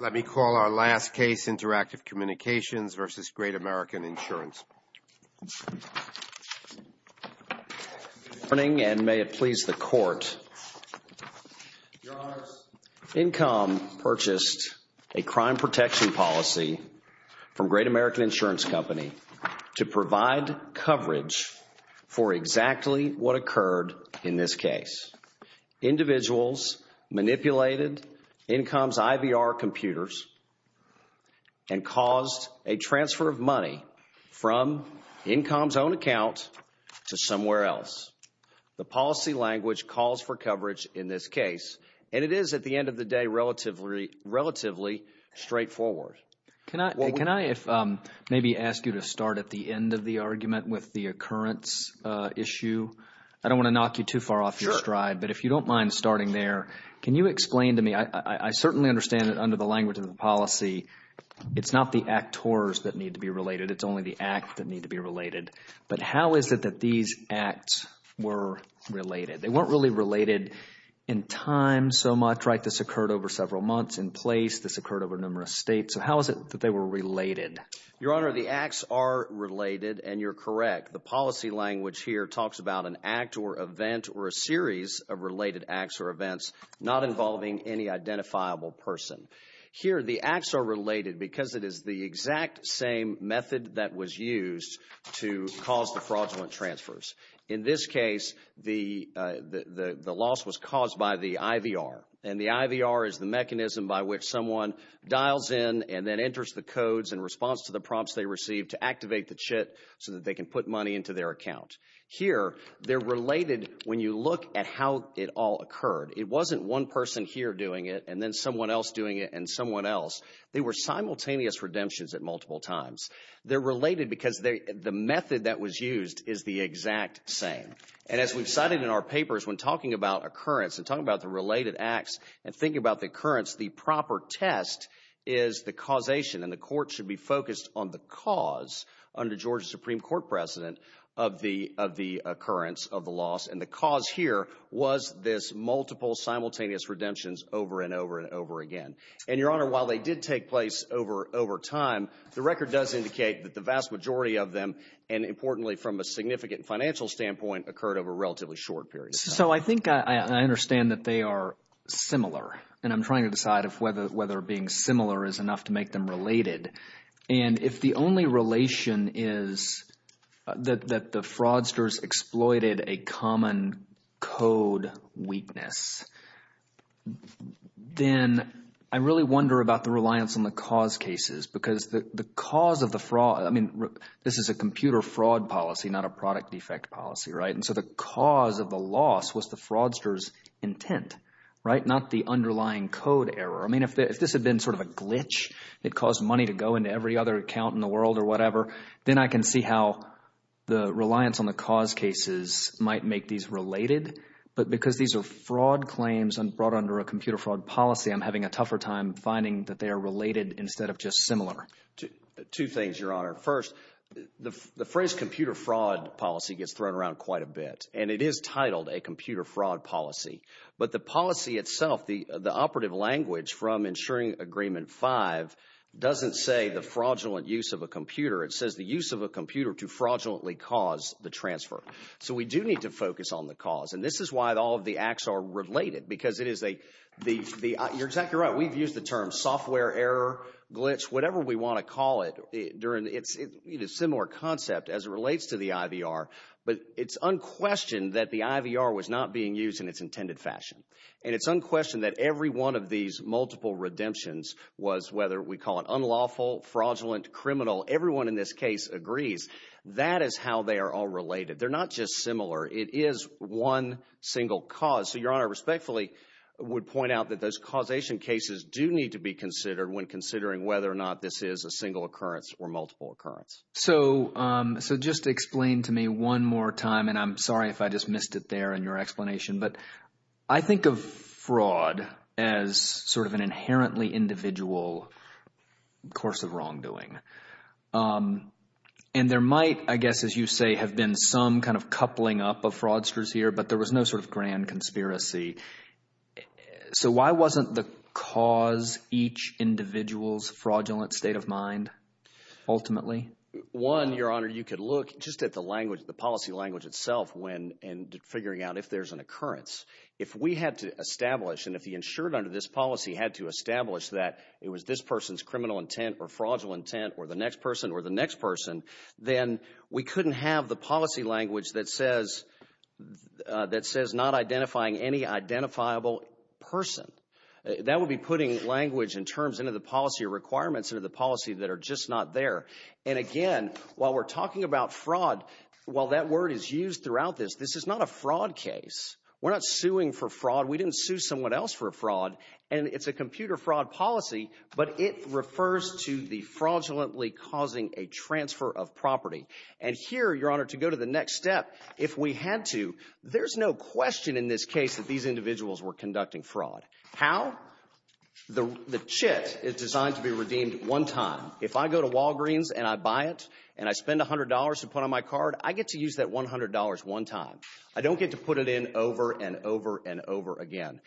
Let me call our last case, Interactive Communications v. Great American Insurance. Good morning, and may it please the Court. Your Honors, Incom purchased a crime protection policy from Great American Insurance Company to provide coverage for exactly what occurred in this case. Individuals manipulated Incom's IVR computers and caused a transfer of money from Incom's own account to somewhere else. The policy language calls for coverage in this case, and it is, at the end of the day, relatively straightforward. Can I maybe ask you to start at the end of the argument with the occurrence issue? I don't want to knock you too far off your stride, but if you don't mind starting there, can you explain to me? I certainly understand that under the language of the policy, it's not the actors that need to be related. It's only the act that need to be related. But how is it that these acts were related? They weren't really related in time so much, right? This occurred over several months in place. This occurred over numerous states. So how is it that they were related? Your Honor, the acts are related, and you're correct. The policy language here talks about an act or event or a series of related acts or events not involving any identifiable person. Here, the acts are related because it is the exact same method that was used to cause the fraudulent transfers. In this case, the loss was caused by the IVR, and the IVR is the mechanism by which someone dials in and then enters the codes in response to the prompts they receive to activate the CHIT so that they can put money into their account. Here, they're related when you look at how it all occurred. It wasn't one person here doing it and then someone else doing it and someone else. They were simultaneous redemptions at multiple times. They're related because the method that was used is the exact same. And as we've cited in our papers, when talking about occurrence and talking about the related acts and thinking about the occurrence, the proper test is the causation, and the court should be focused on the cause under Georgia's Supreme Court precedent of the occurrence of the loss. And the cause here was this multiple simultaneous redemptions over and over and over again. And, Your Honor, while they did take place over time, the record does indicate that the vast majority of them, and importantly from a significant financial standpoint, occurred over a relatively short period of time. So I think I understand that they are similar, and I'm trying to decide if whether being similar is enough to make them related. And if the only relation is that the fraudsters exploited a common code weakness, then I really wonder about the reliance on the cause cases because the cause of the fraud – I mean, this is a computer fraud policy, not a product defect policy, right? And so the cause of the loss was the fraudster's intent, right, not the underlying code error. I mean, if this had been sort of a glitch that caused money to go into every other account in the world or whatever, then I can see how the reliance on the cause cases might make these related. But because these are fraud claims and brought under a computer fraud policy, I'm having a tougher time finding that they are related instead of just similar. Two things, Your Honor. First, the phrase computer fraud policy gets thrown around quite a bit, and it is titled a computer fraud policy. But the policy itself, the operative language from Insuring Agreement 5, doesn't say the fraudulent use of a computer. It says the use of a computer to fraudulently cause the transfer. So we do need to focus on the cause, and this is why all of the acts are related because it is a – you're exactly right. We've used the term software error, glitch, whatever we want to call it. It's a similar concept as it relates to the IVR, but it's unquestioned that the IVR was not being used in its intended fashion. And it's unquestioned that every one of these multiple redemptions was whether we call it unlawful, fraudulent, criminal. Everyone in this case agrees. That is how they are all related. They're not just similar. It is one single cause. So Your Honor, respectfully, would point out that those causation cases do need to be considered when considering whether or not this is a single occurrence or multiple occurrence. So just explain to me one more time, and I'm sorry if I just missed it there in your explanation. But I think of fraud as sort of an inherently individual course of wrongdoing. And there might, I guess as you say, have been some kind of coupling up of fraudsters here, but there was no sort of grand conspiracy. So why wasn't the cause each individual's fraudulent state of mind ultimately? One, Your Honor, you could look just at the language, the policy language itself when figuring out if there's an occurrence. If we had to establish, and if the insured under this policy had to establish that it was this person's criminal intent or fraudulent intent or the next person or the next person, then we couldn't have the policy language that says not identifying any identifiable person. That would be putting language and terms into the policy requirements into the policy that are just not there. And again, while we're talking about fraud, while that word is used throughout this, this is not a fraud case. We're not suing for fraud. We didn't sue someone else for a fraud. And it's a computer fraud policy, but it refers to the fraudulently causing a transfer of property. And here, Your Honor, to go to the next step, if we had to, there's no question in this case that these individuals were conducting fraud. How? The chit is designed to be redeemed one time. If I go to Walgreens and I buy it and I spend $100 to put on my card, I get to use that $100 one time. I don't get to put it in over and over and over again.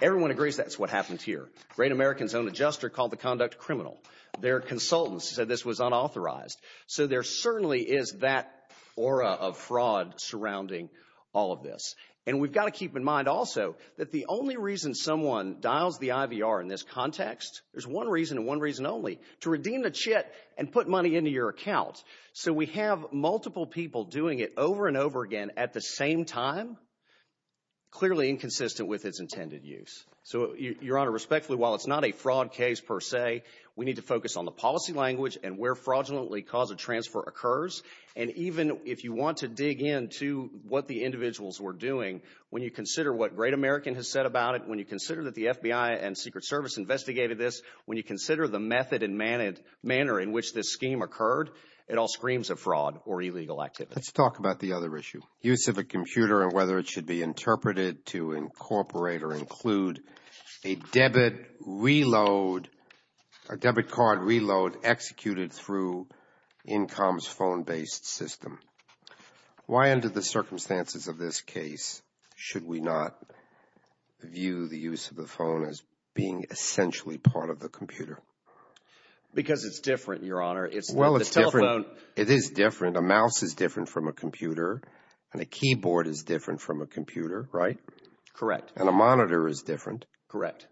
Everyone agrees that's what happened here. Great American's own adjuster called the conduct criminal. Their consultants said this was unauthorized. So there certainly is that aura of fraud surrounding all of this. And we've got to keep in mind also that the only reason someone dials the IVR in this context, there's one reason and one reason only, to redeem the chit and put money into your account. So we have multiple people doing it over and over again at the same time, clearly inconsistent with its intended use. So, Your Honor, respectfully, while it's not a fraud case per se, we need to focus on the policy language and where fraudulently cause of transfer occurs. And even if you want to dig into what the individuals were doing, when you consider what Great American has said about it, when you consider that the FBI and Secret Service investigated this, when you consider the method and manner in which this scheme occurred, it all screams of fraud or illegal activity. Let's talk about the other issue, use of a computer and whether it should be interpreted to incorporate or include a debit reload, a debit card reload executed through INCOM's phone-based system. Why, under the circumstances of this case, should we not view the use of the phone as being essentially part of the computer? Because it's different, Your Honor. Well, it's different. It is different. A mouse is different from a computer, and a keyboard is different from a computer, right? Correct. And a monitor is different. Correct.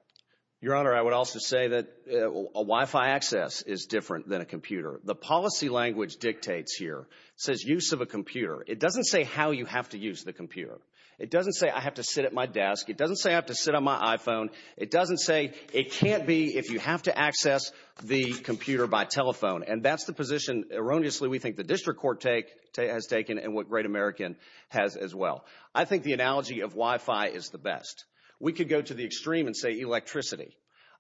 Your Honor, I would also say that a Wi-Fi access is different than a computer. The policy language dictates here says use of a computer. It doesn't say how you have to use the computer. It doesn't say I have to sit at my desk. It doesn't say I have to sit on my iPhone. It doesn't say it can't be if you have to access the computer by telephone. And that's the position, erroneously, we think the district court has taken and what Great American has as well. I think the analogy of Wi-Fi is the best. We could go to the extreme and say electricity.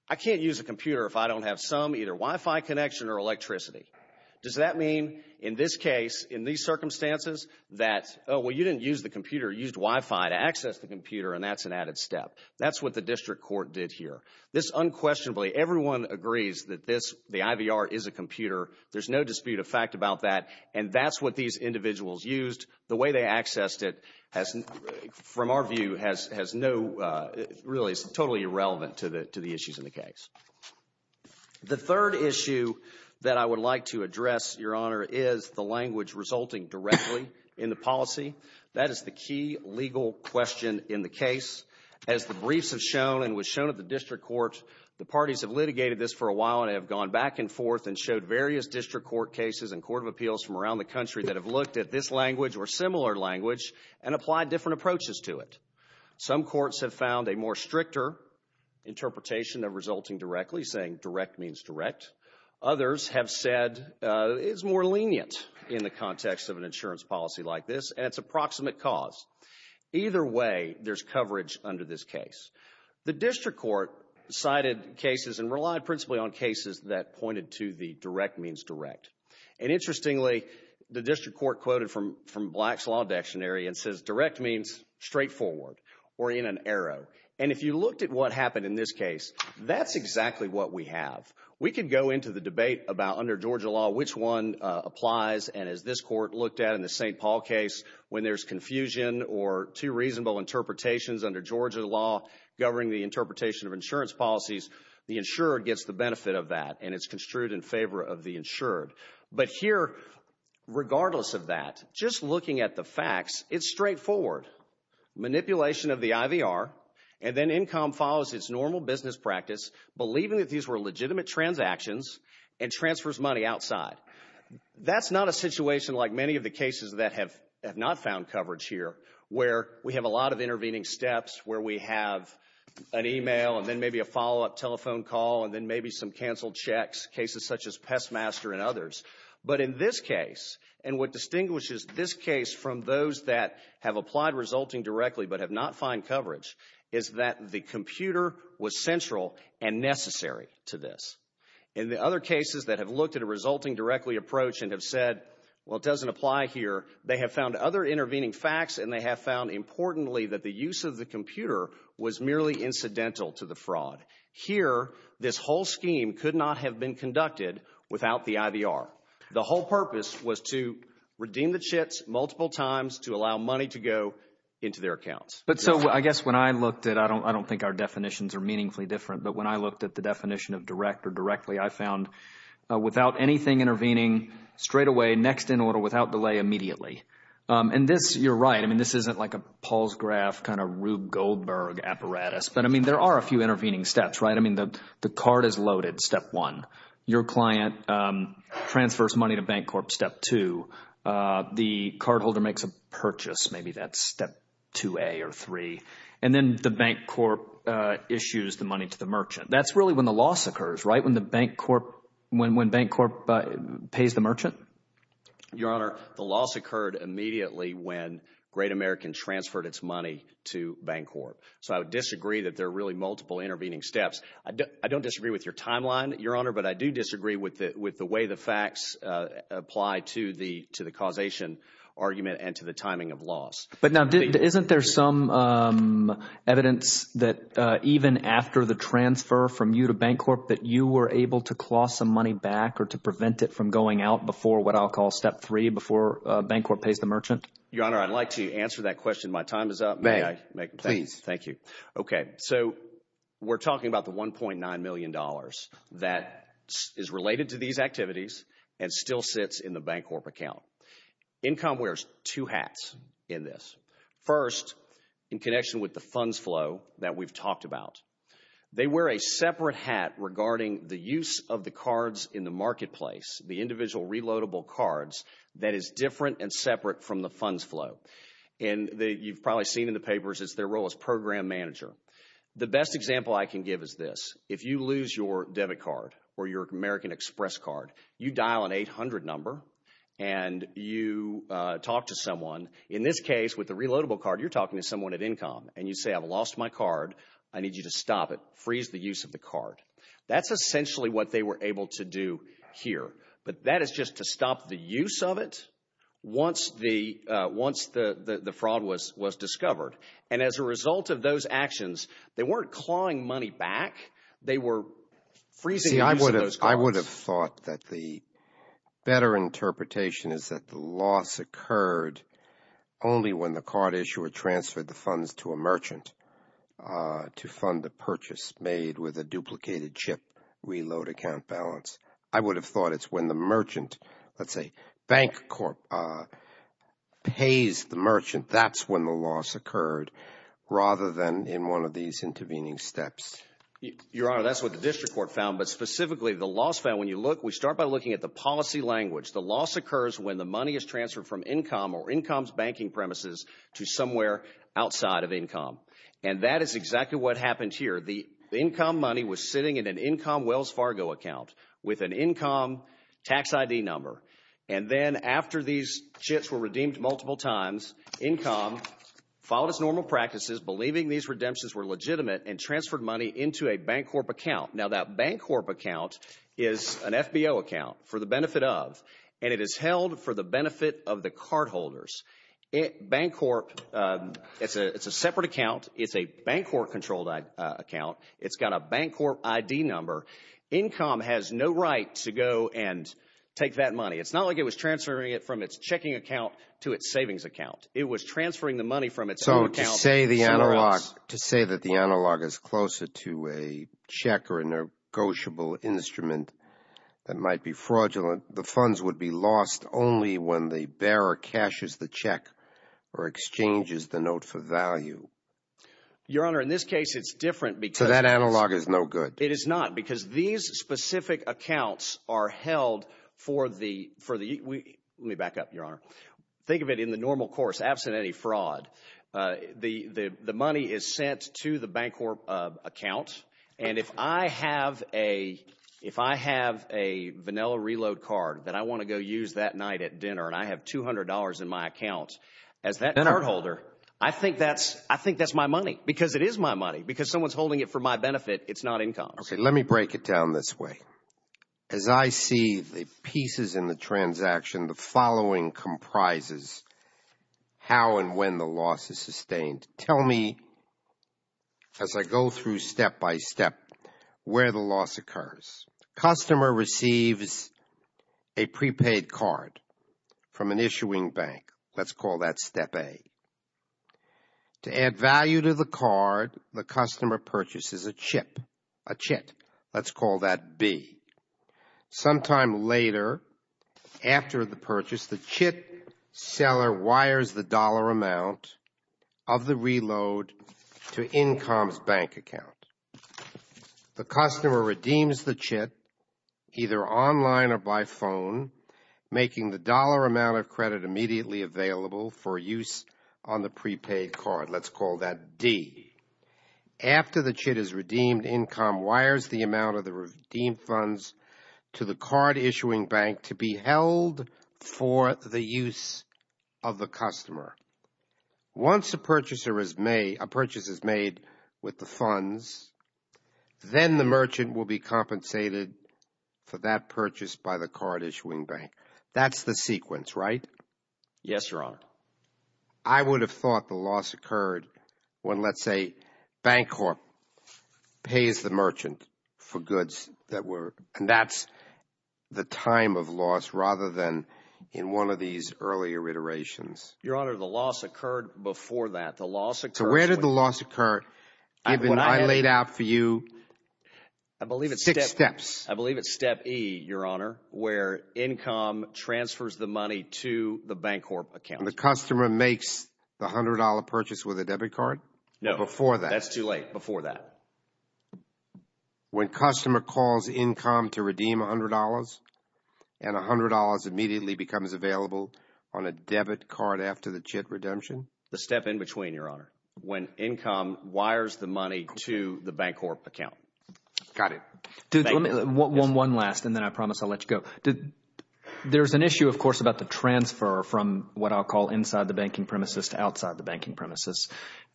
I can't use a computer if I don't have some, either Wi-Fi connection or electricity. Does that mean, in this case, in these circumstances, that, oh, well, you didn't use the computer. You used Wi-Fi to access the computer, and that's an added step. That's what the district court did here. This unquestionably, everyone agrees that the IVR is a computer. There's no dispute of fact about that, and that's what these individuals used. The way they accessed it, from our view, really is totally irrelevant to the issues in the case. The third issue that I would like to address, Your Honor, is the language resulting directly in the policy. That is the key legal question in the case. As the briefs have shown and was shown at the district court, the parties have litigated this for a while and have gone back and forth and showed various district court cases and court of appeals from around the country that have looked at this language or similar language and applied different approaches to it. Some courts have found a more stricter interpretation of resulting directly, saying direct means direct. Others have said it's more lenient in the context of an insurance policy like this, and it's a proximate cause. Either way, there's coverage under this case. The district court cited cases and relied principally on cases that pointed to the direct means direct. Interestingly, the district court quoted from Black's Law Dictionary and says direct means straightforward or in an arrow. If you looked at what happened in this case, that's exactly what we have. We could go into the debate about, under Georgia law, which one applies, and as this court looked at in the St. Paul case, when there's confusion or two reasonable interpretations under Georgia law governing the interpretation of insurance policies, the insured gets the benefit of that, and it's construed in favor of the insured. But here, regardless of that, just looking at the facts, it's straightforward. Manipulation of the IVR, and then INCOM follows its normal business practice, believing that these were legitimate transactions, and transfers money outside. That's not a situation like many of the cases that have not found coverage here, where we have a lot of intervening steps, where we have an email, and then maybe a follow-up telephone call, and then maybe some canceled checks, cases such as Pestmaster and others. But in this case, and what distinguishes this case from those that have applied resulting directly but have not found coverage, is that the computer was central and necessary to this. In the other cases that have looked at a resulting directly approach and have said, well, it doesn't apply here, they have found other intervening facts, and they have found, importantly, that the use of the computer was merely incidental to the fraud. Here, this whole scheme could not have been conducted without the IVR. The whole purpose was to redeem the chits multiple times to allow money to go into their accounts. But so I guess when I looked at it, I don't think our definitions are meaningfully different, but when I looked at the definition of direct or directly, I found without anything intervening, straightaway, next in order, without delay, immediately. And this, you're right, I mean, this isn't like a Paul's graph kind of Rube Goldberg apparatus, but, I mean, there are a few intervening steps, right? I mean, the card is loaded, step one. Your client transfers money to Bancorp, step two. The cardholder makes a purchase, maybe that's step 2A or 3. And then the Bancorp issues the money to the merchant. That's really when the loss occurs, right, when Bancorp pays the merchant? Your Honor, the loss occurred immediately when Great American transferred its money to Bancorp. So I would disagree that there are really multiple intervening steps. I don't disagree with your timeline, Your Honor, but I do disagree with the way the facts apply to the causation argument and to the timing of loss. But now, isn't there some evidence that even after the transfer from you to Bancorp, that you were able to claw some money back or to prevent it from going out before what I'll call step three, before Bancorp pays the merchant? Your Honor, I'd like to answer that question. My time is up. May I? Please. Thank you. Okay, so we're talking about the $1.9 million that is related to these activities and still sits in the Bancorp account. Incom wears two hats in this. First, in connection with the funds flow that we've talked about, they wear a separate hat regarding the use of the cards in the marketplace, the individual reloadable cards that is different and separate from the funds flow. And you've probably seen in the papers, it's their role as program manager. The best example I can give is this. If you lose your debit card or your American Express card, you dial an 800 number and you talk to someone. In this case, with the reloadable card, you're talking to someone at Incom. And you say, I've lost my card. I need you to stop it, freeze the use of the card. That's essentially what they were able to do here. But that is just to stop the use of it once the fraud was discovered. And as a result of those actions, they weren't clawing money back. They were freezing the use of those cards. I would have thought that the better interpretation is that the loss occurred only when the card issuer transferred the funds to a merchant to fund the purchase made with a duplicated chip reload account balance. I would have thought it's when the merchant, let's say, bank pays the merchant. That's when the loss occurred rather than in one of these intervening steps. Your Honor, that's what the district court found. But specifically, the loss found, when you look, we start by looking at the policy language. The loss occurs when the money is transferred from Incom or Incom's banking premises to somewhere outside of Incom. And that is exactly what happened here. The Incom money was sitting in an Incom Wells Fargo account with an Incom tax ID number. And then after these chips were redeemed multiple times, Incom followed its normal practices, believing these redemptions were legitimate, and transferred money into a Bancorp account. Now, that Bancorp account is an FBO account for the benefit of, and it is held for the benefit of the cardholders. Bancorp, it's a separate account. It's a Bancorp-controlled account. It's got a Bancorp ID number. Incom has no right to go and take that money. It's not like it was transferring it from its checking account to its savings account. It was transferring the money from its own account. So to say the analog is closer to a check or a negotiable instrument that might be fraudulent, the funds would be lost only when the bearer cashes the check or exchanges the note for value. Your Honor, in this case, it's different because— So that analog is no good. It is not because these specific accounts are held for the—let me back up, Your Honor. Think of it in the normal course, absent any fraud. The money is sent to the Bancorp account, and if I have a vanilla reload card that I want to go use that night at dinner and I have $200 in my account as that cardholder, I think that's my money because it is my money. Because someone's holding it for my benefit, it's not Incom's. Okay, let me break it down this way. As I see the pieces in the transaction, the following comprises how and when the loss is sustained. Tell me, as I go through step by step, where the loss occurs. Customer receives a prepaid card from an issuing bank. Let's call that step A. To add value to the card, the customer purchases a chip, a chit. Let's call that B. Sometime later, after the purchase, the chit seller wires the dollar amount of the reload to Incom's bank account. The customer redeems the chit, either online or by phone, making the dollar amount of credit immediately available for use on the prepaid card. Let's call that D. After the chit is redeemed, Incom wires the amount of the redeemed funds to the card issuing bank to be held for the use of the customer. Once a purchase is made with the funds, then the merchant will be compensated for that purchase by the card issuing bank. That's the sequence, right? Yes, Your Honor. But I would have thought the loss occurred when, let's say, Bancorp pays the merchant for goods that were, and that's the time of loss rather than in one of these earlier iterations. Your Honor, the loss occurred before that. So where did the loss occur given I laid out for you six steps? I believe it's step E, Your Honor, where Incom transfers the money to the Bancorp account. When the customer makes the $100 purchase with a debit card? No. Before that. That's too late. Before that. When customer calls Incom to redeem $100, and $100 immediately becomes available on a debit card after the chit redemption? The step in between, Your Honor, when Incom wires the money to the Bancorp account. Got it. One last, and then I promise I'll let you go. There's an issue, of course, about the transfer from what I'll call inside the banking premises to outside the banking premises.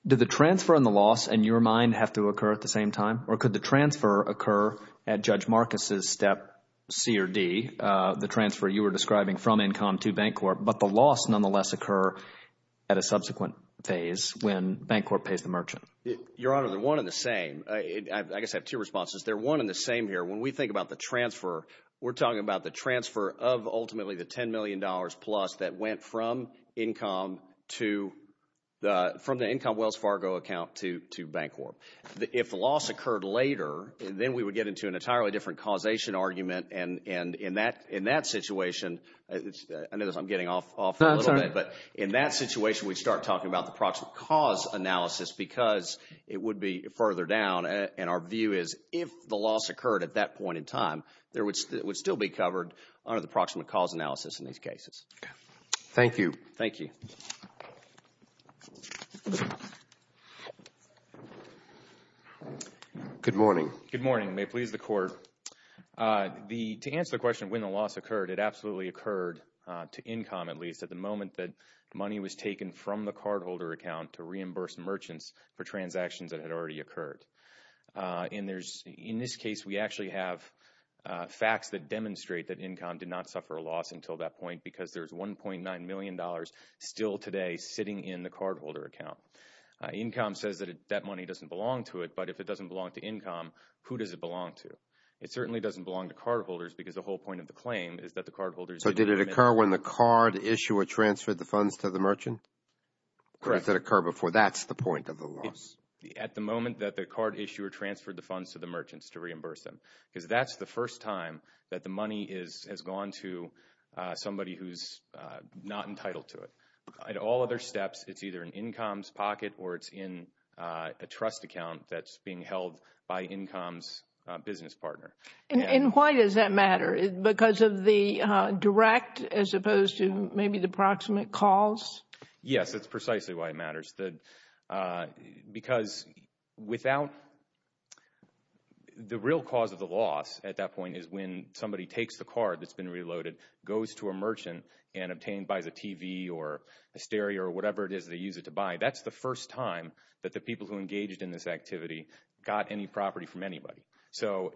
Did the transfer and the loss in your mind have to occur at the same time, or could the transfer occur at Judge Marcus' step C or D, the transfer you were describing from Incom to Bancorp, but the loss nonetheless occur at a subsequent phase when Bancorp pays the merchant? Your Honor, they're one and the same. I guess I have two responses. They're one and the same here. When we think about the transfer, we're talking about the transfer of ultimately the $10 million plus that went from Incom to the – from the Incom Wells Fargo account to Bancorp. If the loss occurred later, then we would get into an entirely different causation argument, and in that situation – I know I'm getting off for a little bit, but in that situation we'd start talking about the proximate cause analysis because it would be further down, and our view is if the loss occurred at that point in time, it would still be covered under the proximate cause analysis in these cases. Okay. Thank you. Thank you. Good morning. Good morning. May it please the Court. To answer the question of when the loss occurred, it absolutely occurred, to Incom at least, at the moment that money was taken from the cardholder account to reimburse merchants for transactions that had already occurred. In this case, we actually have facts that demonstrate that Incom did not suffer a loss until that point because there's $1.9 million still today sitting in the cardholder account. Incom says that that money doesn't belong to it, but if it doesn't belong to Incom, who does it belong to? It certainly doesn't belong to cardholders because the whole point of the claim is that the cardholders – At the moment that the card issuer transferred the funds to the merchants to reimburse them because that's the first time that the money has gone to somebody who's not entitled to it. At all other steps, it's either in Incom's pocket or it's in a trust account that's being held by Incom's business partner. Because of the direct as opposed to maybe the proximate cause? Yes, that's precisely why it matters. Because without – the real cause of the loss at that point is when somebody takes the card that's been reloaded, goes to a merchant, and buys a TV or a stereo or whatever it is they use it to buy. That's the first time that the people who engaged in this activity got any property from anybody. So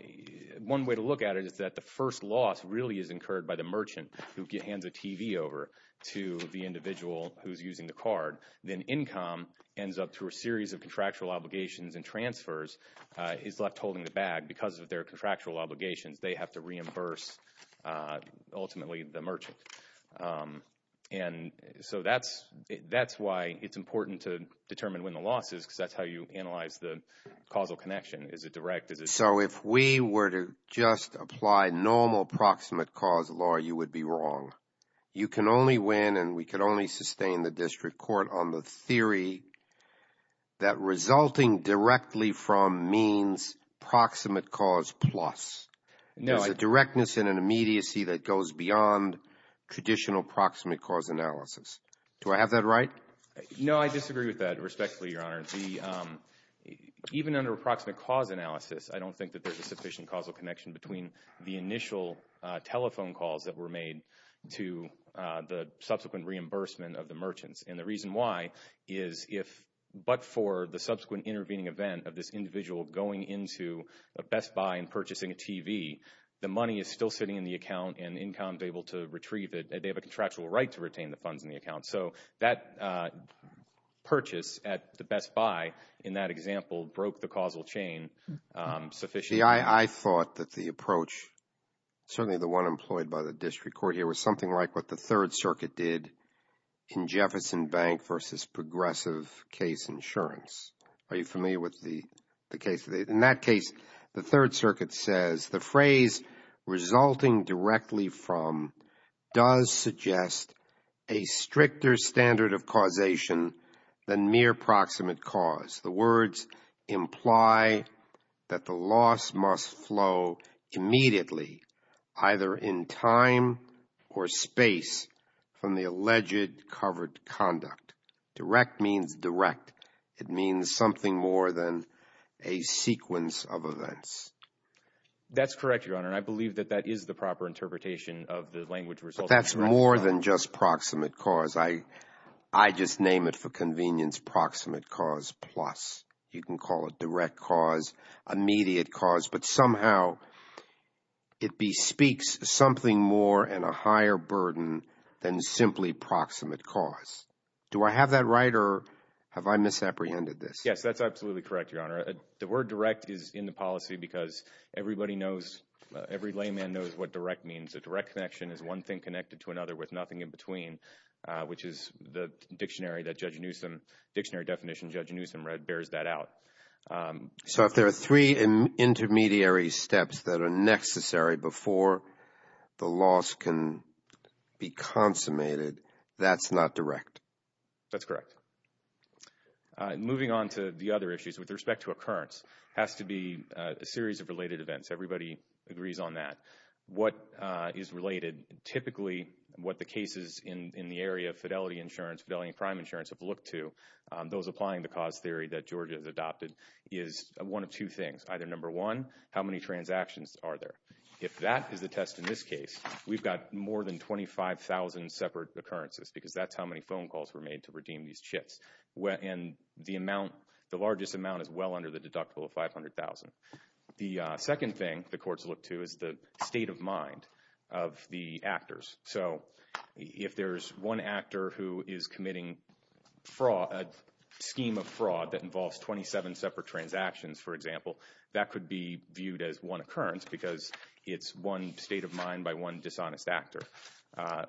one way to look at it is that the first loss really is incurred by the merchant who hands a TV over to the individual who's using the card. Then Incom ends up through a series of contractual obligations and transfers is left holding the bag. Because of their contractual obligations, they have to reimburse ultimately the merchant. And so that's why it's important to determine when the loss is because that's how you analyze the causal connection. Is it direct? So if we were to just apply normal proximate cause law, you would be wrong. You can only win and we can only sustain the district court on the theory that resulting directly from means proximate cause plus. There's a directness and an immediacy that goes beyond traditional proximate cause analysis. Do I have that right? No, I disagree with that respectfully, Your Honor. Even under proximate cause analysis, I don't think that there's a sufficient causal connection between the initial telephone calls that were made to the subsequent reimbursement of the merchants. And the reason why is if but for the subsequent intervening event of this individual going into a Best Buy and purchasing a TV, the money is still sitting in the account and Incom is able to retrieve it. They have a contractual right to retain the funds in the account. So that purchase at the Best Buy in that example broke the causal chain sufficiently. I thought that the approach, certainly the one employed by the district court here, was something like what the Third Circuit did in Jefferson Bank versus progressive case insurance. Are you familiar with the case? In that case, the Third Circuit says the phrase resulting directly from does suggest a stricter standard of causation than mere proximate cause. The words imply that the loss must flow immediately either in time or space from the alleged covered conduct. Direct means direct. It means something more than a sequence of events. That's correct, Your Honor. And I believe that that is the proper interpretation of the language. But that's more than just proximate cause. I just name it for convenience, proximate cause plus. You can call it direct cause, immediate cause. But somehow it bespeaks something more and a higher burden than simply proximate cause. Do I have that right? Or have I misapprehended this? Yes, that's absolutely correct, Your Honor. The word direct is in the policy because everybody knows, every layman knows what direct means. A direct connection is one thing connected to another with nothing in between, which is the dictionary that Judge Newsom, dictionary definition Judge Newsom read bears that out. So if there are three intermediary steps that are necessary before the loss can be consummated, that's not direct? That's correct. Moving on to the other issues with respect to occurrence has to be a series of related events. Everybody agrees on that. What is related, typically what the cases in the area of fidelity insurance, fidelity and crime insurance have looked to, those applying the cause theory that Georgia has adopted, is one of two things. Either number one, how many transactions are there? If that is the test in this case, we've got more than 25,000 separate occurrences because that's how many phone calls were made to redeem these chits. And the amount, the largest amount is well under the deductible of 500,000. The second thing the courts look to is the state of mind of the actors. So if there's one actor who is committing fraud, a scheme of fraud that involves 27 separate transactions, for example, that could be viewed as one occurrence because it's one state of mind by one dishonest actor.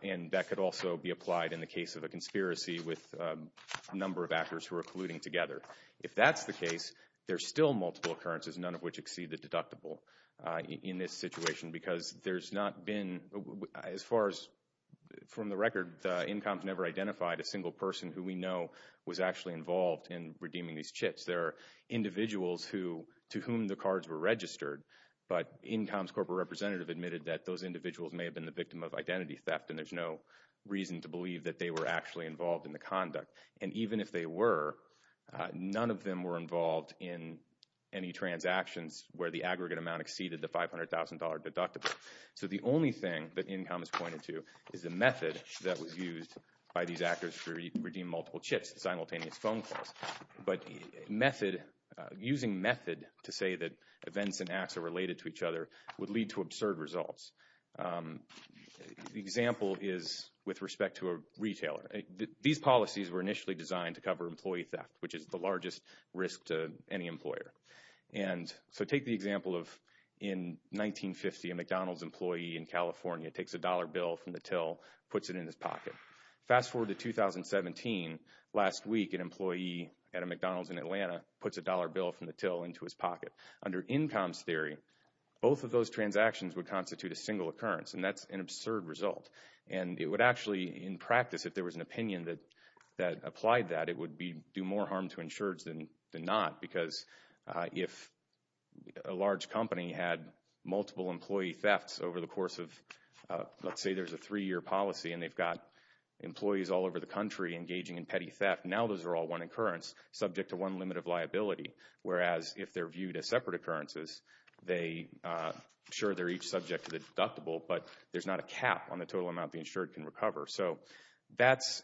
And that could also be applied in the case of a conspiracy with a number of actors who are colluding together. If that's the case, there's still multiple occurrences, none of which exceed the deductible in this situation because there's not been, as far as from the record, the INCOMS never identified a single person who we know was actually involved in redeeming these chits. There are individuals to whom the cards were registered, but INCOMS corporate representative admitted that those individuals may have been the victim of identity theft and there's no reason to believe that they were actually involved in the conduct. And even if they were, none of them were involved in any transactions where the aggregate amount exceeded the $500,000 deductible. So the only thing that INCOMS pointed to is the method that was used by these actors to redeem multiple chits, but method, using method to say that events and acts are related to each other would lead to absurd results. The example is with respect to a retailer. These policies were initially designed to cover employee theft, which is the largest risk to any employer. And so take the example of in 1950, a McDonald's employee in California takes a dollar bill from the till, puts it in his pocket. Fast forward to 2017, last week, an employee at a McDonald's in Atlanta puts a dollar bill from the till into his pocket. Under INCOMS theory, both of those transactions would constitute a single occurrence, and that's an absurd result. And it would actually, in practice, if there was an opinion that applied that, it would do more harm to insureds than not, because if a large company had multiple employee thefts over the course of, let's say there's a three-year policy and they've got employees all over the country engaging in petty theft, now those are all one occurrence subject to one limit of liability, whereas if they're viewed as separate occurrences, they, sure, they're each subject to the deductible, but there's not a cap on the total amount the insured can recover. So that's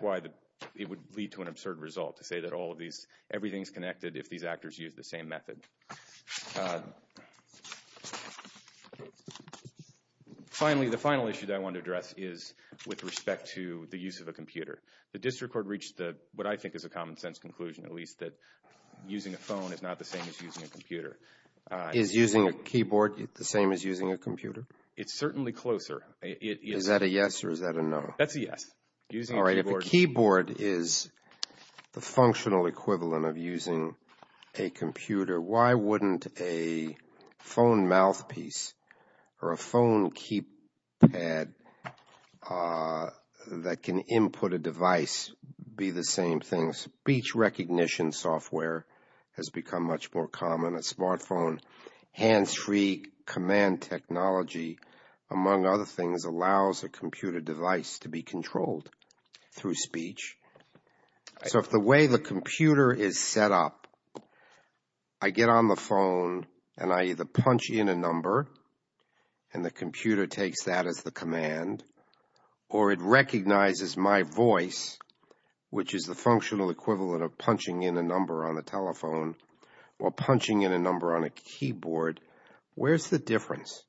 why it would lead to an absurd result to say that all of these, everything's connected if these actors use the same method. Finally, the final issue that I want to address is with respect to the use of a computer. The district court reached what I think is a common-sense conclusion, at least, that using a phone is not the same as using a computer. Is using a keyboard the same as using a computer? It's certainly closer. Is that a yes or is that a no? That's a yes. All right, if a keyboard is the functional equivalent of using a computer, why wouldn't a phone mouthpiece or a phone keypad that can input a device be the same thing? Speech recognition software has become much more common. A smartphone hands-free command technology, among other things, allows a computer device to be controlled through speech. So if the way the computer is set up, I get on the phone and I either punch in a number and the computer takes that as the command, or it recognizes my voice, which is the functional equivalent of punching in a number on the telephone, or punching in a number on a keyboard, where's the difference?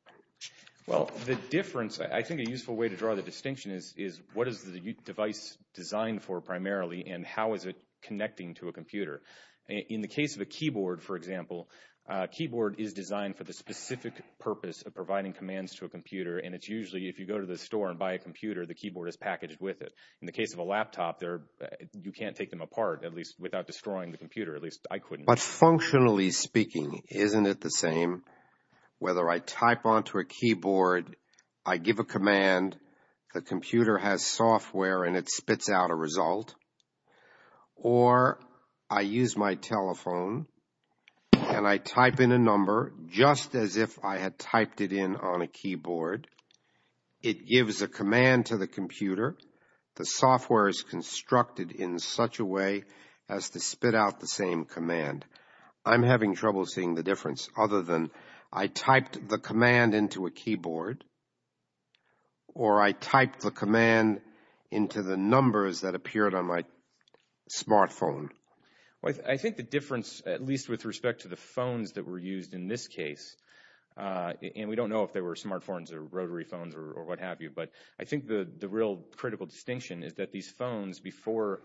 Well, the difference, I think a useful way to draw the distinction is what is the device designed for primarily and how is it connecting to a computer? In the case of a keyboard, for example, a keyboard is designed for the specific purpose of providing commands to a computer, and it's usually if you go to the store and buy a computer, the keyboard is packaged with it. In the case of a laptop, you can't take them apart, at least, without destroying the computer. At least, I couldn't. But functionally speaking, isn't it the same? Whether I type onto a keyboard, I give a command, the computer has software and it spits out a result, or I use my telephone and I type in a number just as if I had typed it in on a keyboard, it gives a command to the computer, the software is constructed in such a way as to spit out the same command. I'm having trouble seeing the difference other than I typed the command into a keyboard, or I typed the command into the numbers that appeared on my smartphone. I think the difference, at least with respect to the phones that were used in this case, and we don't know if they were smartphones or rotary phones or what have you, but I think the real critical distinction is that these phones, before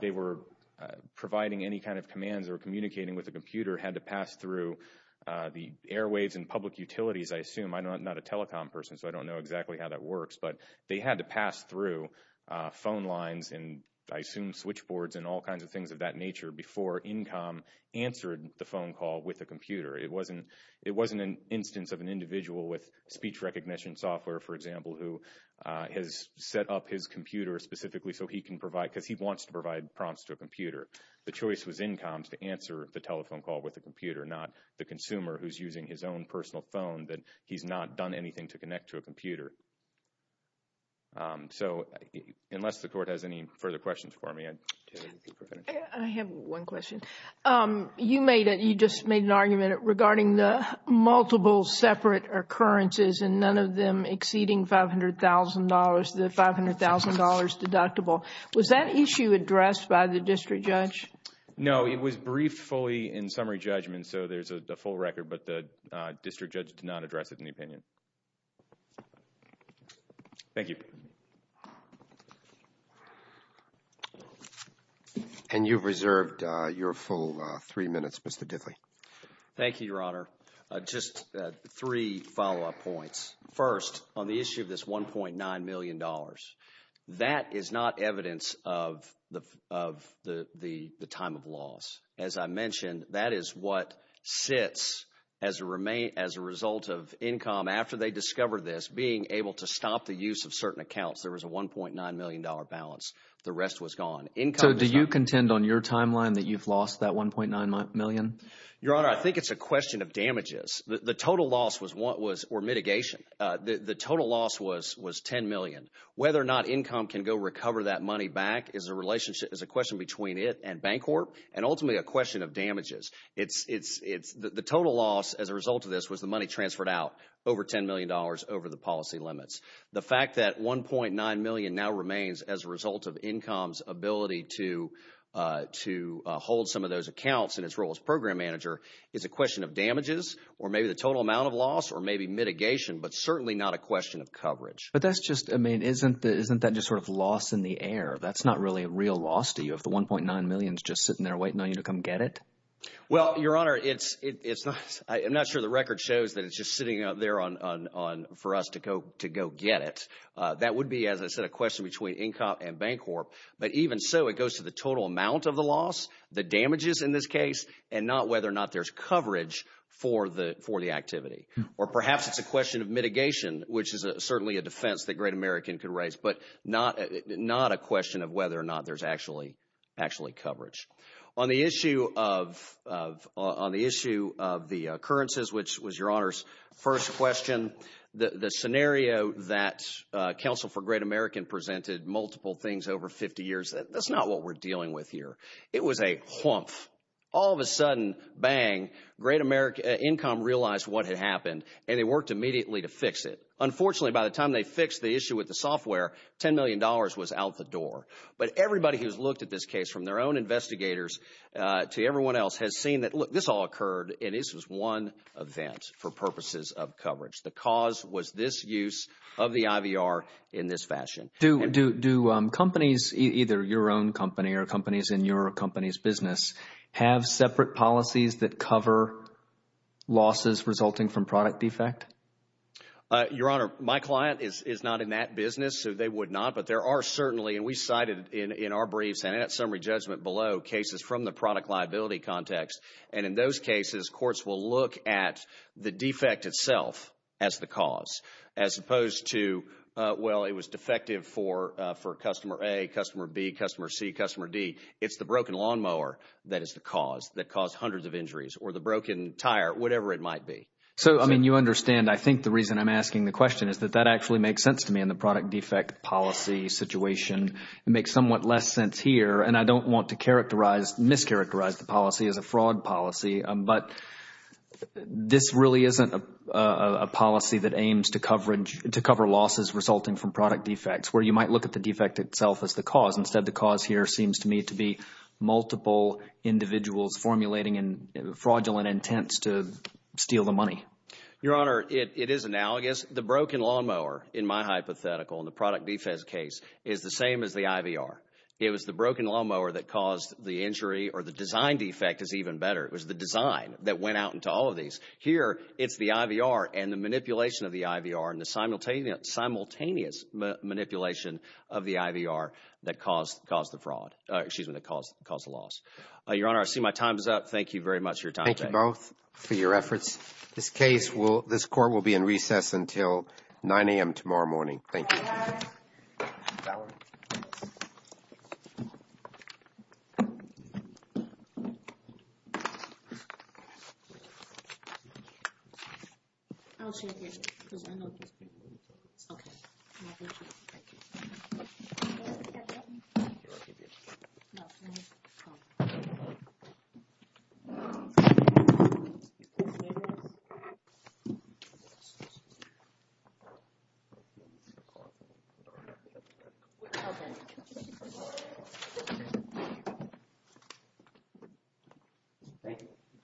they were providing any kind of commands or communicating with a computer, had to pass through the airwaves and public utilities, I assume. I'm not a telecom person, so I don't know exactly how that works, but they had to pass through phone lines and, I assume, switchboards and all kinds of things of that nature before InCom answered the phone call with a computer. It wasn't an instance of an individual with speech recognition software, for example, who has set up his computer specifically so he can provide, because he wants to provide prompts to a computer. The choice was InCom's to answer the telephone call with a computer, not the consumer who's using his own personal phone that he's not done anything to connect to a computer. So, unless the Court has any further questions for me, I'd like to finish. I have one question. You just made an argument regarding the multiple separate occurrences and none of them exceeding the $500,000 deductible. Was that issue addressed by the district judge? No, it was briefed fully in summary judgment, so there's a full record, but the district judge did not address it in the opinion. Thank you. And you've reserved your full three minutes, Mr. Dithley. Thank you, Your Honor. Just three follow-up points. First, on the issue of this $1.9 million, that is not evidence of the time of loss. As I mentioned, that is what sits as a result of InCom, after they discovered this, being able to stop the use of certain accounts. There was a $1.9 million balance. The rest was gone. So, do you contend on your timeline that you've lost that $1.9 million? Your Honor, I think it's a question of damages. The total loss was mitigation. The total loss was $10 million. Whether or not InCom can go recover that money back is a question between it and Bancorp and ultimately a question of damages. The total loss as a result of this was the money transferred out over $10 million over the policy limits. The fact that $1.9 million now remains as a result of InCom's ability to hold some of those accounts in its role as program manager is a question of damages or maybe the total amount of loss or maybe mitigation, but certainly not a question of coverage. But that's just – I mean, isn't that just sort of loss in the air? That's not really a real loss to you if the $1.9 million is just sitting there waiting on you to come get it? Well, Your Honor, I'm not sure the record shows that it's just sitting there for us to go get it. That would be, as I said, a question between InCom and Bancorp. But even so, it goes to the total amount of the loss, the damages in this case, and not whether or not there's coverage for the activity. Or perhaps it's a question of mitigation, which is certainly a defense that Great American could raise, but not a question of whether or not there's actually coverage. On the issue of the occurrences, which was Your Honor's first question, the scenario that Counsel for Great American presented multiple things over 50 years, that's not what we're dealing with here. It was a humpf. All of a sudden, bang, Great American – InCom realized what had happened, and they worked immediately to fix it. Unfortunately, by the time they fixed the issue with the software, $10 million was out the door. But everybody who's looked at this case, from their own investigators to everyone else, has seen that, look, this all occurred, and this was one event for purposes of coverage. The cause was this use of the IVR in this fashion. Do companies, either your own company or companies in your company's business, have separate policies that cover losses resulting from product defect? Your Honor, my client is not in that business, so they would not. But there are certainly, and we cited in our briefs and at summary judgment below, cases from the product liability context. And in those cases, courts will look at the defect itself as the cause, as opposed to, well, it was defective for customer A, customer B, customer C, customer D. It's the broken lawnmower that is the cause, that caused hundreds of injuries, or the broken tire, whatever it might be. So, I mean, you understand, I think the reason I'm asking the question is that that actually makes sense to me in the product defect policy situation. It makes somewhat less sense here, and I don't want to characterize, mischaracterize the policy as a fraud policy. But this really isn't a policy that aims to cover losses resulting from product defects, where you might look at the defect itself as the cause. Instead, the cause here seems to me to be multiple individuals formulating fraudulent intents to steal the money. Your Honor, it is analogous. The broken lawnmower, in my hypothetical, in the product defense case, is the same as the IVR. It was the broken lawnmower that caused the injury, or the design defect is even better. It was the design that went out into all of these. Here, it's the IVR and the manipulation of the IVR and the simultaneous manipulation of the IVR that caused the fraud, excuse me, that caused the loss. Your Honor, I see my time is up. Thank you very much for your time today. Thank you both for your efforts. This court will be in recess until 9 a.m. tomorrow morning. Thank you. Thank you.